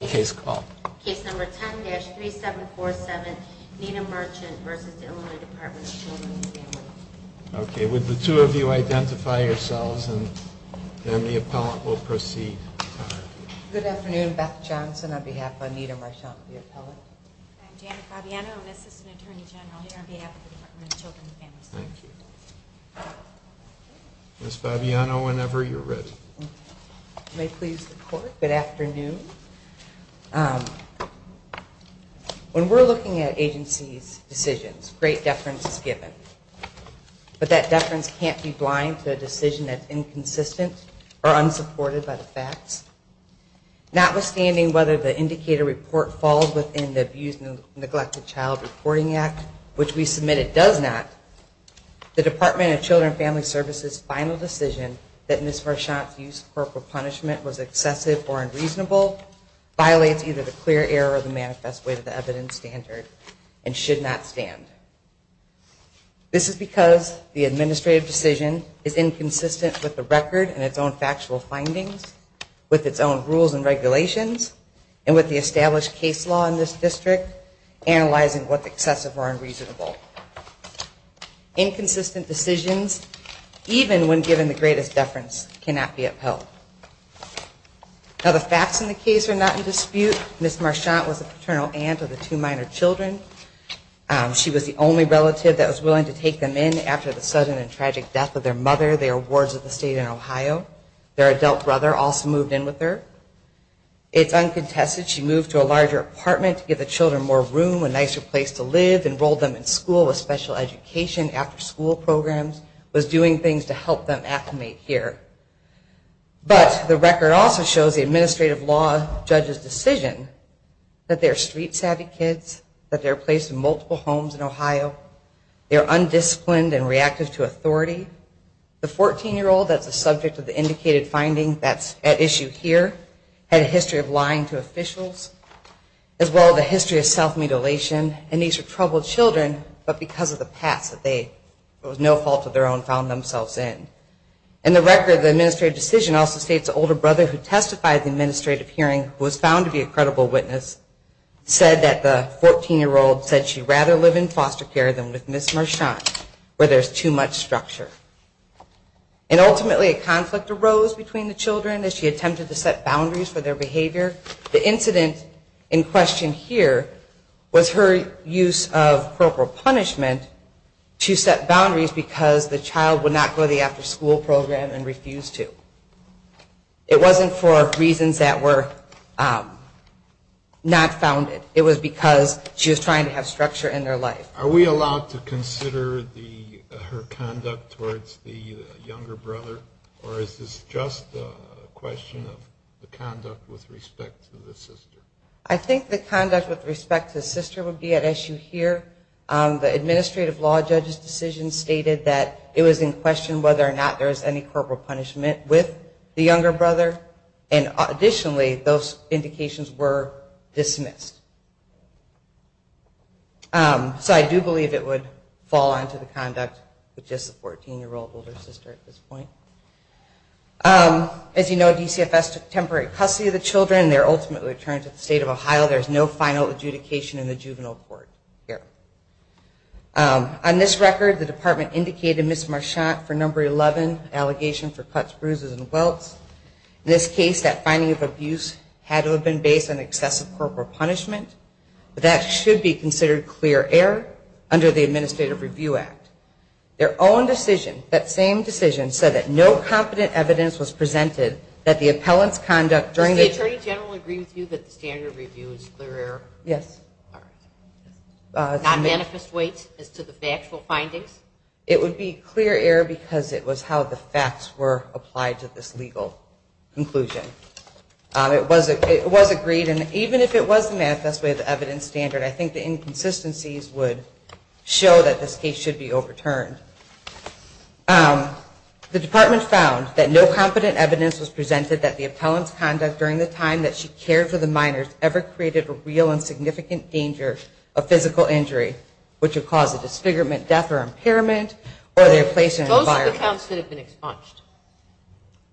Case number 10-3747, Nita Marchant v. Illinois Department of Children and Family Services Okay, would the two of you identify yourselves and then the appellant will proceed. Good afternoon, Beth Johnson on behalf of Nita Marchant, the appellant. I'm Janet Fabiano, an assistant attorney general here on behalf of the Department of Children and Family Services. Thank you. Ms. Fabiano, whenever you're ready. May it please the court, good afternoon. When we're looking at agencies' decisions, great deference is given, but that deference can't be blind to a decision that's inconsistent or unsupported by the facts. Notwithstanding whether the indicator report falls within the Abused and Neglected Child Reporting Act, which we submitted does not, the Department of Children and Family Services' final decision that Ms. Marchant's use of corporal punishment was excessive or unreasonable violates either the clear error or the manifest way to the evidence standard and should not stand. This is because the administrative decision is inconsistent with the record and its own factual findings, with its own rules and regulations, and with the established case law in this district analyzing what's excessive or unreasonable. Inconsistent decisions, even when given the greatest deference, cannot be upheld. Now, the facts in the case are not in dispute. Ms. Marchant was a paternal aunt of the two minor children. She was the only relative that was willing to take them in after the sudden and tragic death of their mother. They are wards of the state in Ohio. Their adult brother also moved in with her. It's uncontested. She moved to a larger apartment to give the children more room, a nicer place to live, enrolled them in school with special education, after school programs, was doing things to help them acclimate here. But the record also shows the administrative law judge's decision that they're street savvy kids, that they're placed in multiple homes in Ohio, they're undisciplined and reactive to authority. The 14-year-old, that's the subject of the indicated finding that's at issue here, had a history of lying to officials, as well as a history of self-mutilation. And these are troubled children, but because of the past that they, it was no fault of their own, found themselves in. And the record of the administrative decision also states the older brother who testified at the administrative hearing, who was found to be a credible witness, said that the 14-year-old said she'd rather live in foster care than with Ms. Marchant, where there's too much structure. And ultimately a conflict arose between the children as she attempted to set boundaries for their behavior. The incident in question here was her use of corporal punishment to set boundaries because the child would not go to the after-school program and refuse to. It wasn't for reasons that were not founded. It was because she was trying to have structure in their life. Are we allowed to consider her conduct towards the younger brother, or is this just a question of the conduct with respect to the sister? I think the conduct with respect to the sister would be at issue here. The administrative law judge's decision stated that it was in question whether or not there was any corporal punishment with the younger brother. And additionally, those indications were dismissed. So I do believe it would fall under the conduct with just the 14-year-old older sister at this point. As you know, DCFS took temporary custody of the children. They were ultimately returned to the state of Ohio. There's no final adjudication in the juvenile court here. On this record, the department indicated Ms. Marchant for number 11, allegation for cuts, bruises, and welts. In this case, that finding of abuse had to have been based on excessive corporal punishment but that should be considered clear error under the Administrative Review Act. Their own decision, that same decision, said that no competent evidence was presented that the appellant's conduct during the... Does the attorney general agree with you that the standard review is clear error? Yes. Non-manifest weights as to the factual findings? It would be clear error because it was how the facts were applied to this legal conclusion. It was agreed, and even if it was the manifest weight of the evidence standard, I think the inconsistencies would show that this case should be overturned. The department found that no competent evidence was presented that the appellant's conduct during the time that she cared for the minors ever created a real and significant danger of physical injury, which would cause a disfigurement, death, or impairment, or their place in an environment... Those are the counts that have been expunged.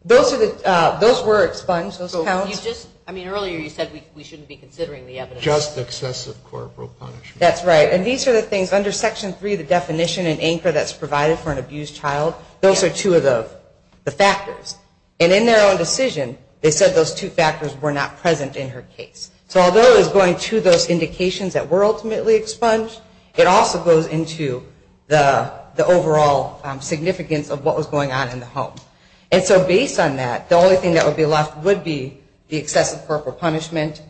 Those were expunged, those counts. Earlier you said we shouldn't be considering the evidence. Just excessive corporal punishment. That's right, and these are the things under Section 3, the definition and anchor that's provided for an abused child. Those are two of the factors, and in their own decision, they said those two factors were not present in her case. So although it was going to those indications that were ultimately expunged, it also goes into the overall significance of what was going on in the home. And so based on that, the only thing that would be left would be the excessive corporal punishment,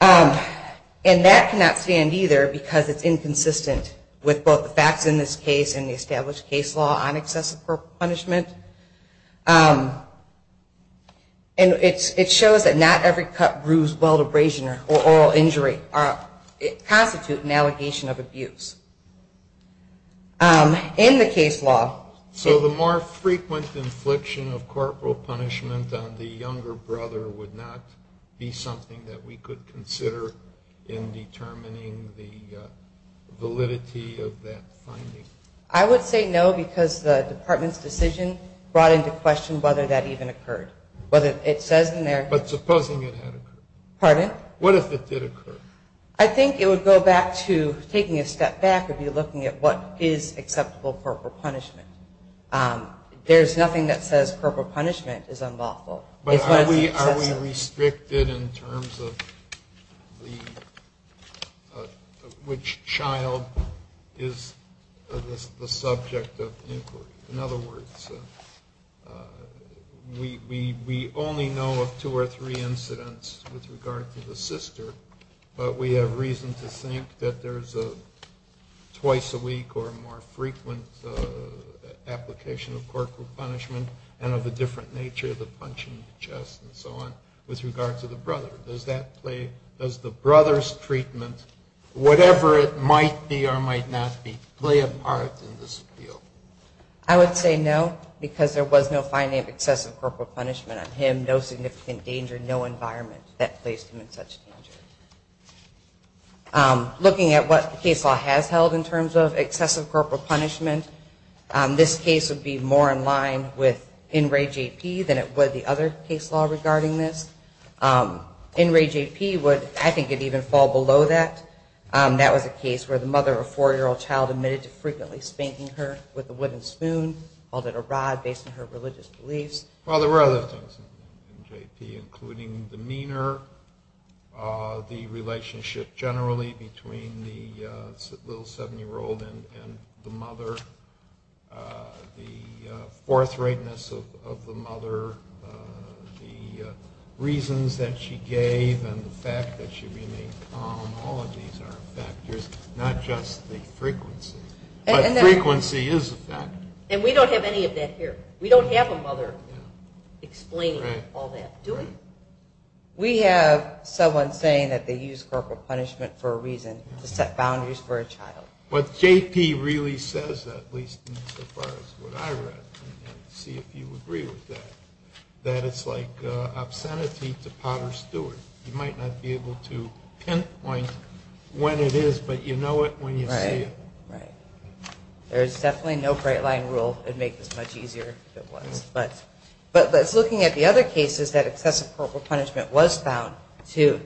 and that cannot stand either because it's inconsistent with both the facts in this case and the established case law on excessive corporal punishment. And it shows that not every cut, bruise, weld, abrasion, or oral injury constitute an allegation of abuse. In the case law... So the more frequent infliction of corporal punishment on the younger brother would not be something that we could consider in determining the validity of that finding? I would say no because the Department's decision brought into question whether that even occurred. But it says in there... But supposing it had occurred? Pardon? What if it did occur? I think it would go back to taking a step back and be looking at what is acceptable corporal punishment. There's nothing that says corporal punishment is unlawful. But are we restricted in terms of which child is the subject of inquiry? In other words, we only know of two or three incidents with regard to the sister, but we have reason to think that there's a twice-a-week or a more frequent application of corporal punishment and of a different nature of the punch in the chest and so on with regard to the brother. Does the brother's treatment, whatever it might be or might not be, play a part in this appeal? I would say no because there was no finding of excessive corporal punishment on him, and no significant danger, no environment that placed him in such danger. Looking at what the case law has held in terms of excessive corporal punishment, this case would be more in line with NRAJP than it would the other case law regarding this. NRAJP would, I think, even fall below that. That was a case where the mother of a 4-year-old child admitted to frequently spanking her with a wooden spoon, called it a rod based on her religious beliefs. Well, there were other things in NRAJP, including demeanor, the relationship generally between the little 7-year-old and the mother, the forthrightness of the mother, the reasons that she gave, and the fact that she remained calm. All of these are factors, not just the frequency. But frequency is a factor. And we don't have any of that here. We don't have a mother explaining all that, do we? We have someone saying that they use corporal punishment for a reason, to set boundaries for a child. What J.P. really says, at least as far as what I read, and see if you agree with that, that it's like obscenity to Potter Stewart. You might not be able to pinpoint when it is, but you know it when you see it. Right. There's definitely no great line rule that would make this much easier if it was. But looking at the other cases that excessive corporal punishment was found, to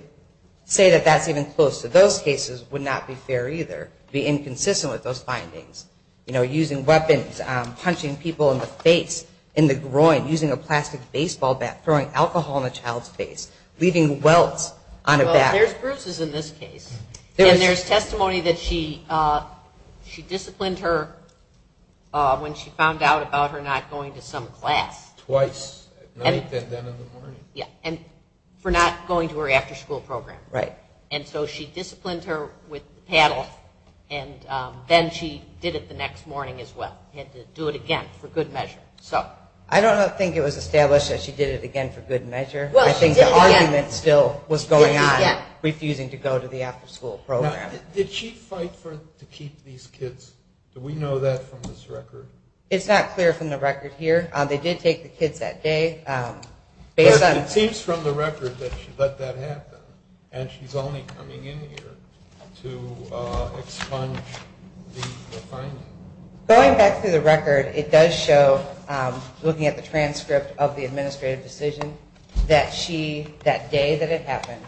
say that that's even close to those cases would not be fair either. It would be inconsistent with those findings. You know, using weapons, punching people in the face, in the groin, using a plastic baseball bat, throwing alcohol in a child's face, leaving welts on a bat. Well, there's proofs in this case. And there's testimony that she disciplined her when she found out about her not going to some class. Twice, at night and then in the morning. Yeah, and for not going to her after-school program. Right. And so she disciplined her with the paddle, and then she did it the next morning as well. Had to do it again for good measure. I don't think it was established that she did it again for good measure. Well, she did it again. And it still was going on, refusing to go to the after-school program. Now, did she fight to keep these kids? Do we know that from this record? It's not clear from the record here. They did take the kids that day. It seems from the record that she let that happen, and she's only coming in here to expunge the findings. Going back through the record, it does show, looking at the transcript of the administrative decision, that she, that day that it happened,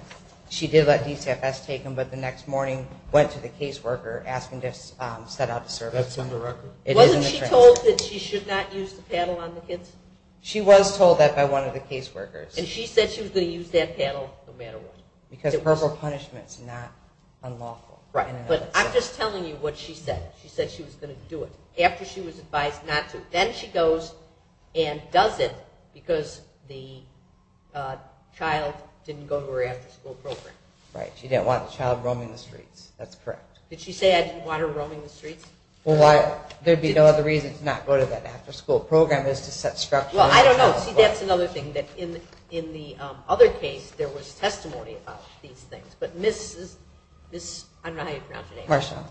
she did let DCFS take them, but the next morning went to the caseworker asking to set out the service. That's in the record. Wasn't she told that she should not use the paddle on the kids? She was told that by one of the caseworkers. And she said she was going to use that paddle no matter what. Because verbal punishment is not unlawful. Right, but I'm just telling you what she said. She said she was going to do it after she was advised not to. Then she goes and does it because the child didn't go to her after-school program. Right. She didn't want the child roaming the streets. That's correct. Did she say, I didn't want her roaming the streets? Well, there would be no other reason to not go to that after-school program than to set structure. Well, I don't know. See, that's another thing. In the other case, there was testimony about these things. But Ms. I don't know how you pronounce your name. Marshawn.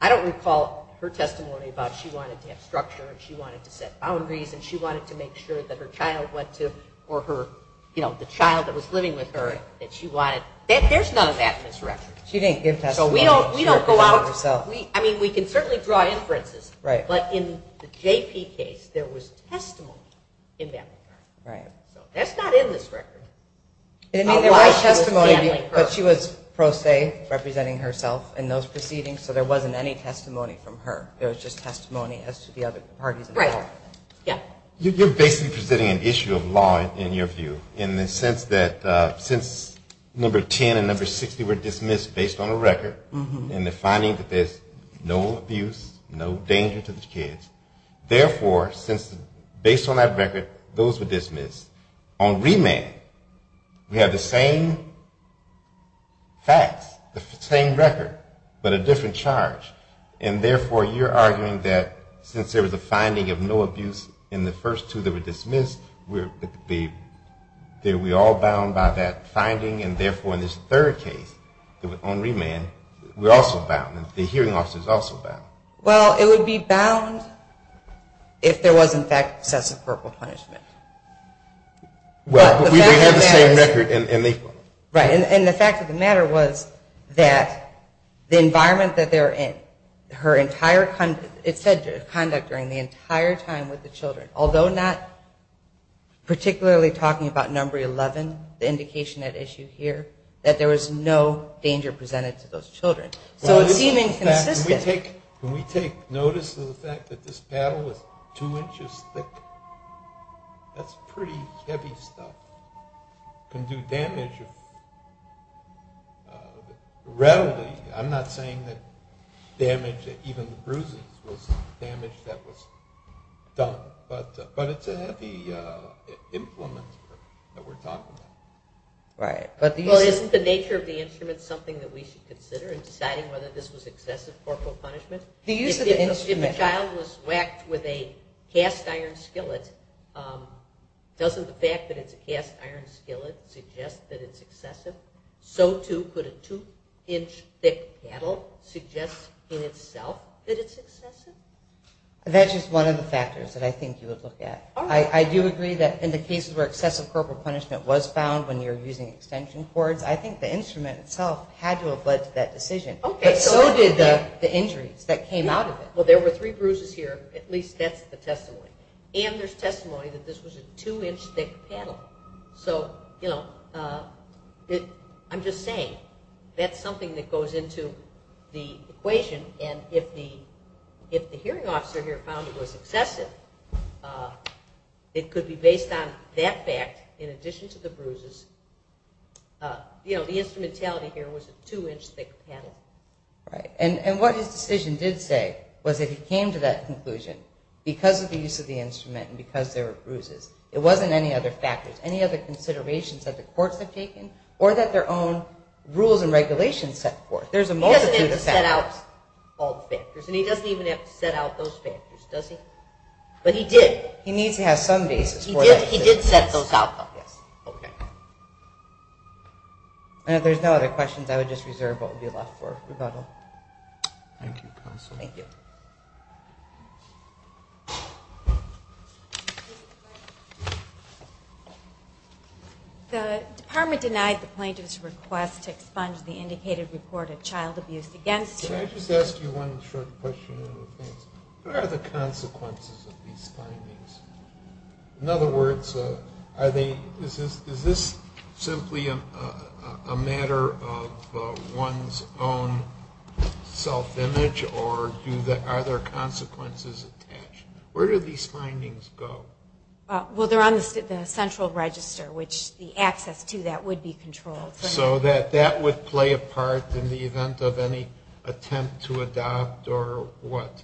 I don't recall her testimony about she wanted to have structure and she wanted to set boundaries and she wanted to make sure that her child went to or the child that was living with her, that she wanted. There's none of that in this record. She didn't give testimony. So we don't go out. I mean, we can certainly draw inferences. Right. But in the JP case, there was testimony in that regard. Right. So that's not in this record. It didn't mean there was testimony. But she was pro se representing herself in those proceedings, so there wasn't any testimony from her. There was just testimony as to the other parties involved. Right. Yeah. You're basically presenting an issue of law, in your view, in the sense that since number 10 and number 60 were dismissed based on a record and the finding that there's no abuse, no danger to the kids, therefore, since based on that record, those were dismissed. On remand, we have the same facts, the same record, but a different charge. And therefore, you're arguing that since there was a finding of no abuse in the first two that were dismissed, we're all bound by that finding, and therefore in this third case on remand, we're also bound. The hearing officer is also bound. Well, it would be bound if there was, in fact, excessive corporal punishment. Well, but we have the same record. Right, and the fact of the matter was that the environment that they were in, her entire conduct during the entire time with the children, although not particularly talking about number 11, the indication at issue here, that there was no danger presented to those children. So it seemed inconsistent. Can we take notice of the fact that this paddle was two inches thick? That's pretty heavy stuff. It can do damage readily. I'm not saying that damage, even bruises, was damage that was done, but it's a heavy implement that we're talking about. Right. Well, isn't the nature of the instrument something that we should consider in deciding whether this was excessive corporal punishment? If the child was whacked with a cast iron skillet, doesn't the fact that it's a cast iron skillet suggest that it's excessive? So, too, could a two-inch thick paddle suggest in itself that it's excessive? That's just one of the factors that I think you would look at. I do agree that in the cases where excessive corporal punishment was found when you're using extension cords, I think the instrument itself had to have led to that decision. But so did the injuries that came out of it. At least that's the testimony. And there's testimony that this was a two-inch thick paddle. So, you know, I'm just saying that's something that goes into the equation. And if the hearing officer here found it was excessive, it could be based on that fact in addition to the bruises. You know, the instrumentality here was a two-inch thick paddle. Right. And what his decision did say was that he came to that conclusion because of the use of the instrument and because there were bruises. It wasn't any other factors, any other considerations that the courts had taken or that their own rules and regulations set forth. There's a multitude of factors. He doesn't have to set out all the factors. And he doesn't even have to set out those factors, does he? But he did. He needs to have some basis for that decision. He did set those out. Yes. Okay. And if there's no other questions, I would just reserve what would be left for rebuttal. Thank you, counsel. Thank you. The department denied the plaintiff's request to expunge the indicated report of child abuse against her. Can I just ask you one short question? What are the consequences of these findings? In other words, is this simply a matter of one's own self-image or are there consequences attached? Where do these findings go? Well, they're on the central register, which the access to that would be controlled. So that would play a part in the event of any attempt to adopt or what?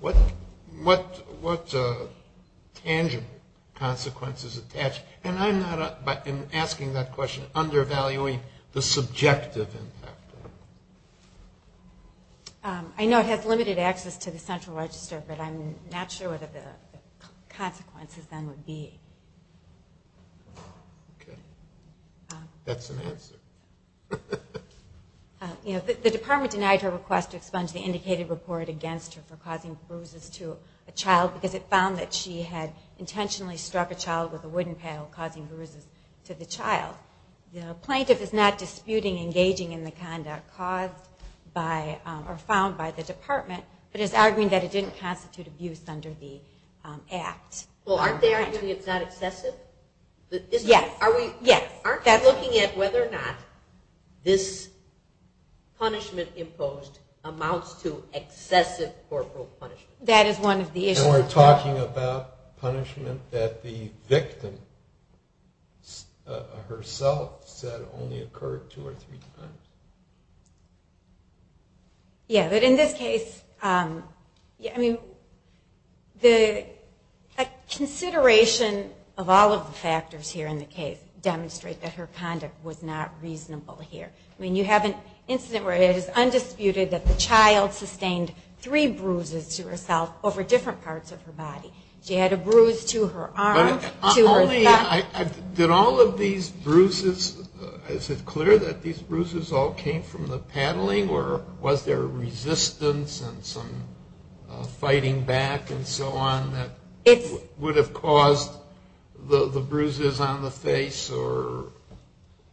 What tangible consequences attach? I'm asking that question undervaluing the subjective impact. I know it has limited access to the central register, but I'm not sure what the consequences then would be. Okay. That's an answer. The department denied her request to expunge the indicated report against her for causing bruises to a child because it found that she had intentionally struck a child with a wooden paddle causing bruises to the child. The plaintiff is not disputing engaging in the conduct found by the department, but is arguing that it didn't constitute abuse under the act. Well, aren't they arguing it's not excessive? Yes. Aren't they looking at whether or not this punishment imposed amounts to excessive corporal punishment? That is one of the issues. And we're talking about punishment that the victim herself said only occurred two or three times. Yeah, but in this case, a consideration of all of the factors here in the case demonstrate that her conduct was not reasonable here. I mean, you have an incident where it is undisputed that the child sustained three bruises to herself over different parts of her body. She had a bruise to her arm, to her back. Did all of these bruises, is it clear that these bruises all came from the paddling or was there resistance and some fighting back and so on that would have caused the bruises on the face?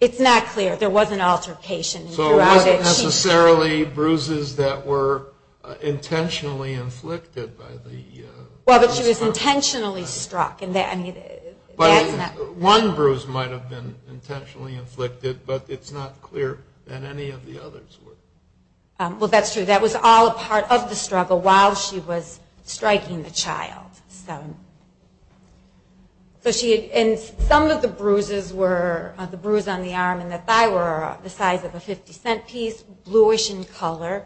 It's not clear. There was an altercation. So it wasn't necessarily bruises that were intentionally inflicted. Well, but she was intentionally struck. One bruise might have been intentionally inflicted, but it's not clear that any of the others were. Well, that's true. That was all a part of the struggle while she was striking the child. Some of the bruises on the arm and the thigh were the size of a 50-cent piece, bluish in color.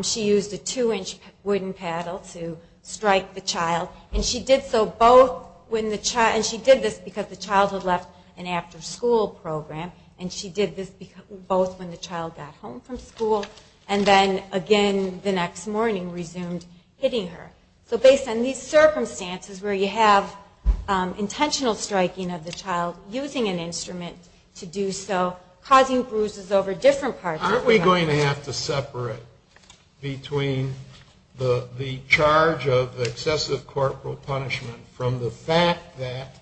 She used a 2-inch wooden paddle to strike the child. And she did this because the child had left an after-school program, and she did this both when the child got home from school and then again the next morning resumed hitting her. So based on these circumstances where you have intentional striking of the child using an instrument to do so, causing bruises over different parts of the body. Aren't we going to have to separate between the charge of excessive corporal punishment from the fact that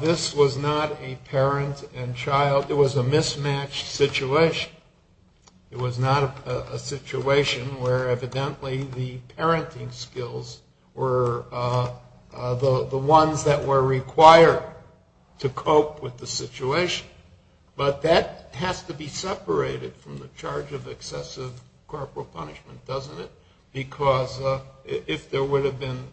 this was not a parent and child? It was a mismatched situation. It was not a situation where evidently the parenting skills were the ones that were required to cope with the situation. But that has to be separated from the charge of excessive corporal punishment, doesn't it? Because if there would have been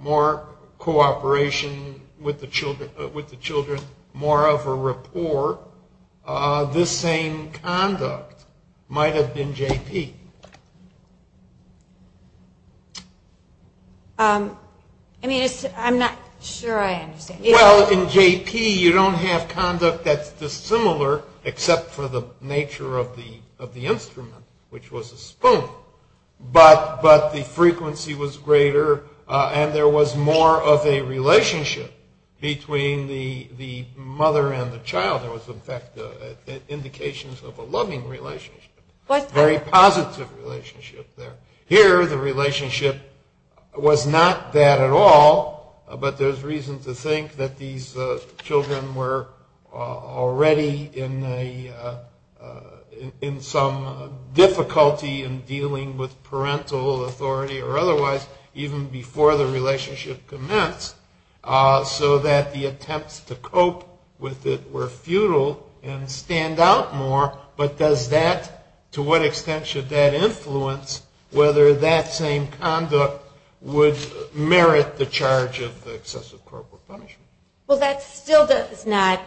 more cooperation with the children, more of a rapport, this same conduct might have been JP. I mean, I'm not sure I understand. Well, in JP you don't have conduct that's dissimilar except for the nature of the instrument, which was a spoon. But the frequency was greater, and there was more of a relationship between the mother and the child. There was, in fact, indications of a loving relationship, a very positive relationship there. Here the relationship was not that at all, but there's reason to think that these children were already in some difficulty in dealing with parental authority or otherwise even before the relationship commenced so that the attempts to cope with it were futile and stand out more. But to what extent should that influence whether that same conduct would merit the charge of excessive corporal punishment? Well, that still does not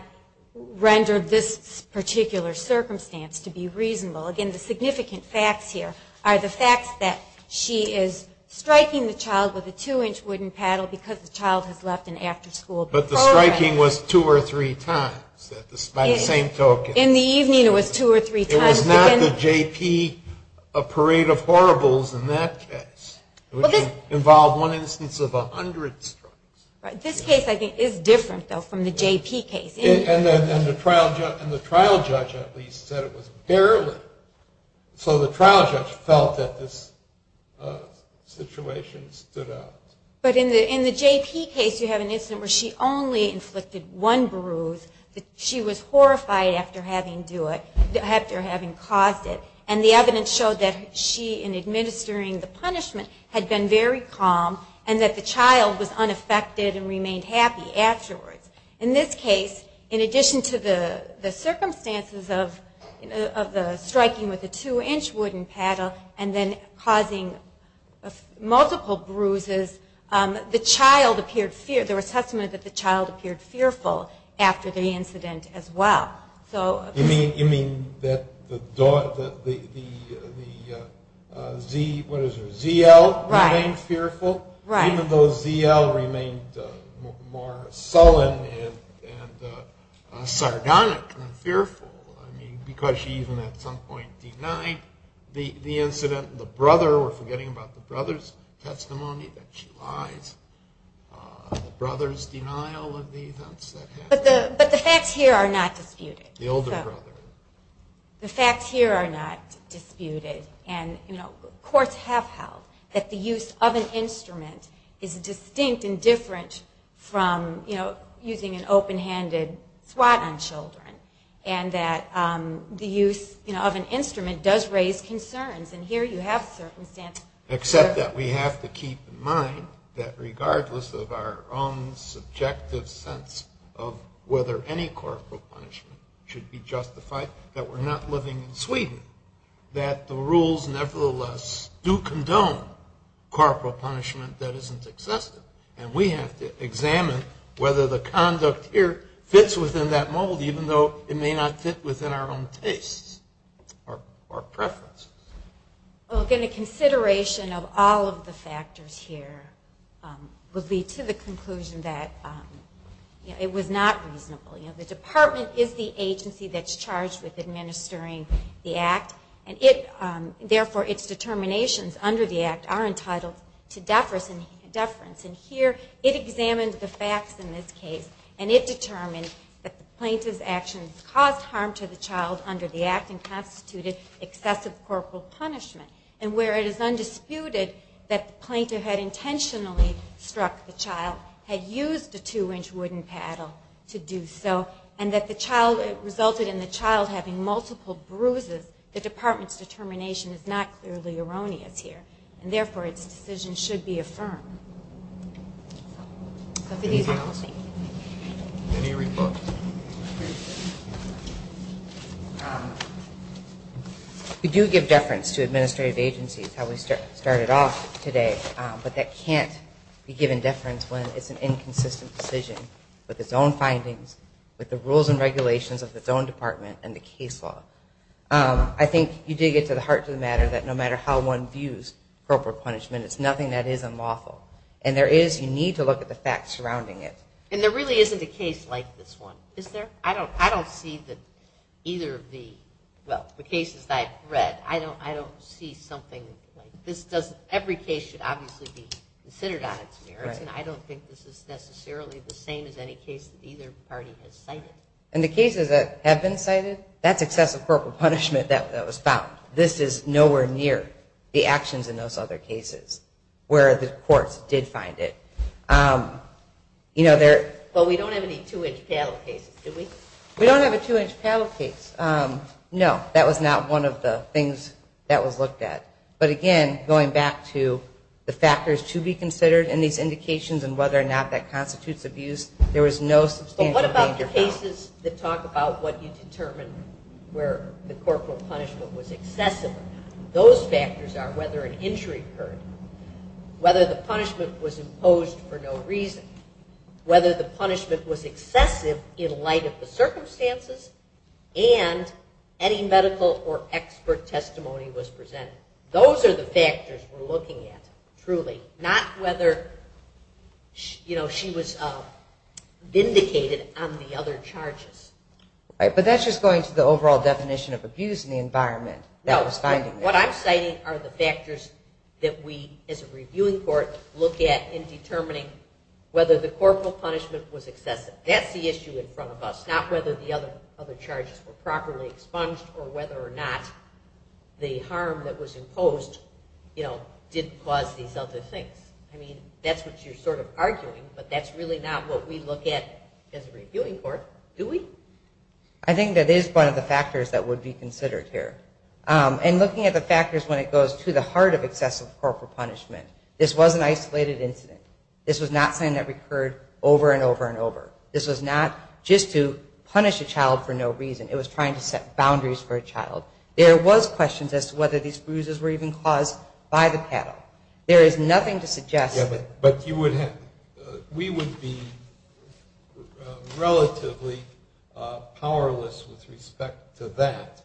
render this particular circumstance to be reasonable. Again, the significant facts here are the facts that she is striking the child with a two-inch wooden paddle because the child has left an after-school program. But the striking was two or three times by the same token. In the evening it was two or three times. It was not the JP parade of horribles in that case. It involved one instance of a hundred strikes. This case, I think, is different, though, from the JP case. And the trial judge at least said it was barely. So the trial judge felt that this situation stood out. But in the JP case you have an incident where she only inflicted one bruise. She was horrified after having caused it. And the evidence showed that she, in administering the punishment, had been very calm and that the child was unaffected and remained happy afterwards. In this case, in addition to the circumstances of the striking with a two-inch wooden paddle and then causing multiple bruises, there was testimony that the child appeared fearful after the incident as well. You mean that the ZL remained fearful? Right. Even though ZL remained more sullen and sardonic and fearful, I mean, because she even at some point denied the incident. The brother, we're forgetting about the brother's testimony, that she lies. The brother's denial of the events that happened. But the facts here are not disputed. The older brother. The facts here are not disputed. Courts have held that the use of an instrument is distinct and different from using an open-handed swat on children and that the use of an instrument does raise concerns. And here you have circumstances. Except that we have to keep in mind that regardless of our own subjective sense of whether any corporal punishment should be justified, that we're not living in Sweden, that the rules nevertheless do condone corporal punishment that isn't excessive. And we have to examine whether the conduct here fits within that mold, even though it may not fit within our own tastes or preferences. Well, again, the consideration of all of the factors here would lead to the conclusion that it was not reasonable. The department is the agency that's charged with administering the act, and therefore its determinations under the act are entitled to deference. And here it examines the facts in this case, and it determines that the plaintiff's actions caused harm to the child under the act and constituted excessive corporal punishment. And where it is undisputed that the plaintiff had intentionally struck the child, had used a two-inch wooden paddle to do so, and that it resulted in the child having multiple bruises, the department's determination is not clearly erroneous here, and therefore its decision should be affirmed. So for these reasons, thank you. Any rebuttals? We do give deference to administrative agencies, how we started off today, but that can't be given deference when it's an inconsistent decision with its own findings, with the rules and regulations of its own department and the case law. I think you dig it to the heart of the matter that no matter how one views corporal punishment, it's nothing that is unlawful. And you need to look at the facts surrounding it. And there really isn't a case like this one, is there? I don't see either of the cases that I've read. I don't see something like this. Every case should obviously be considered on its merits, and I don't think this is necessarily the same as any case that either party has cited. And the cases that have been cited, that's excessive corporal punishment that was found. This is nowhere near the actions in those other cases where the courts did find it. But we don't have any two-inch paddle cases, do we? We don't have a two-inch paddle case. No, that was not one of the things that was looked at. But again, going back to the factors to be considered in these indications and whether or not that constitutes abuse, there was no substantial danger found. But what about the cases that talk about what you determined where the corporal punishment was excessive? Those factors are whether an injury occurred, whether the punishment was imposed for no reason, whether the punishment was excessive in light of the circumstances, and any medical or expert testimony was presented. Those are the factors we're looking at, truly, not whether she was vindicated on the other charges. Right, but that's just going to the overall definition of abuse and the environment that was finding that. No, what I'm citing are the factors that we, as a reviewing court, look at in determining whether the corporal punishment was excessive. That's the issue in front of us, not whether the other charges were properly expunged or whether or not the harm that was imposed didn't cause these other things. I mean, that's what you're sort of arguing, but that's really not what we look at as a reviewing court, do we? I think that is one of the factors that would be considered here. And looking at the factors when it goes to the heart of excessive corporal punishment, this was an isolated incident. This was not something that recurred over and over and over. This was not just to punish a child for no reason. It was trying to set boundaries for a child. There was questions as to whether these bruises were even caused by the paddle. There is nothing to suggest that. Yeah, but you would have to. We would be relatively powerless with respect to that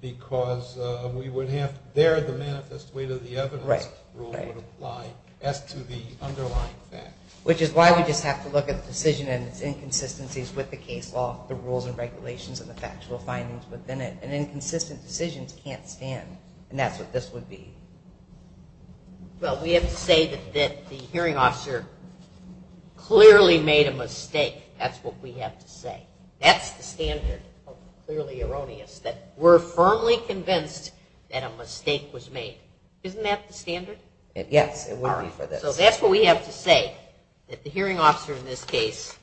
because we would have to bear the manifest weight of the evidence rule that would apply as to the underlying fact. Which is why we just have to look at the decision and its inconsistencies with the case law, the rules and regulations and the factual findings within it. And inconsistent decisions can't stand, and that's what this would be. Well, we have to say that the hearing officer clearly made a mistake. That's what we have to say. That's the standard of clearly erroneous, that we're firmly convinced that a mistake was made. Isn't that the standard? Yes, it would be for this. So that's what we have to say, that the hearing officer in this case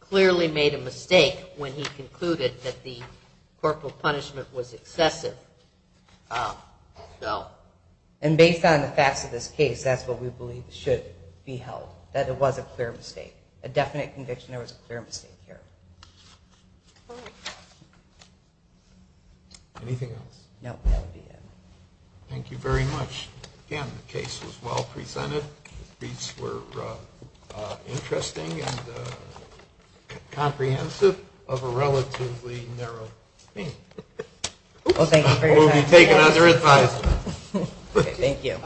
clearly made a mistake when he concluded that the corporal punishment was excessive. And based on the facts of this case, that's what we believe should be held, that it was a clear mistake. A definite conviction there was a clear mistake here. All right. Anything else? No, that would be it. Thank you very much. Again, the case was well presented. The briefs were interesting and comprehensive of a relatively narrow theme. Well, thank you for your time. We'll be taking other advice. Thank you.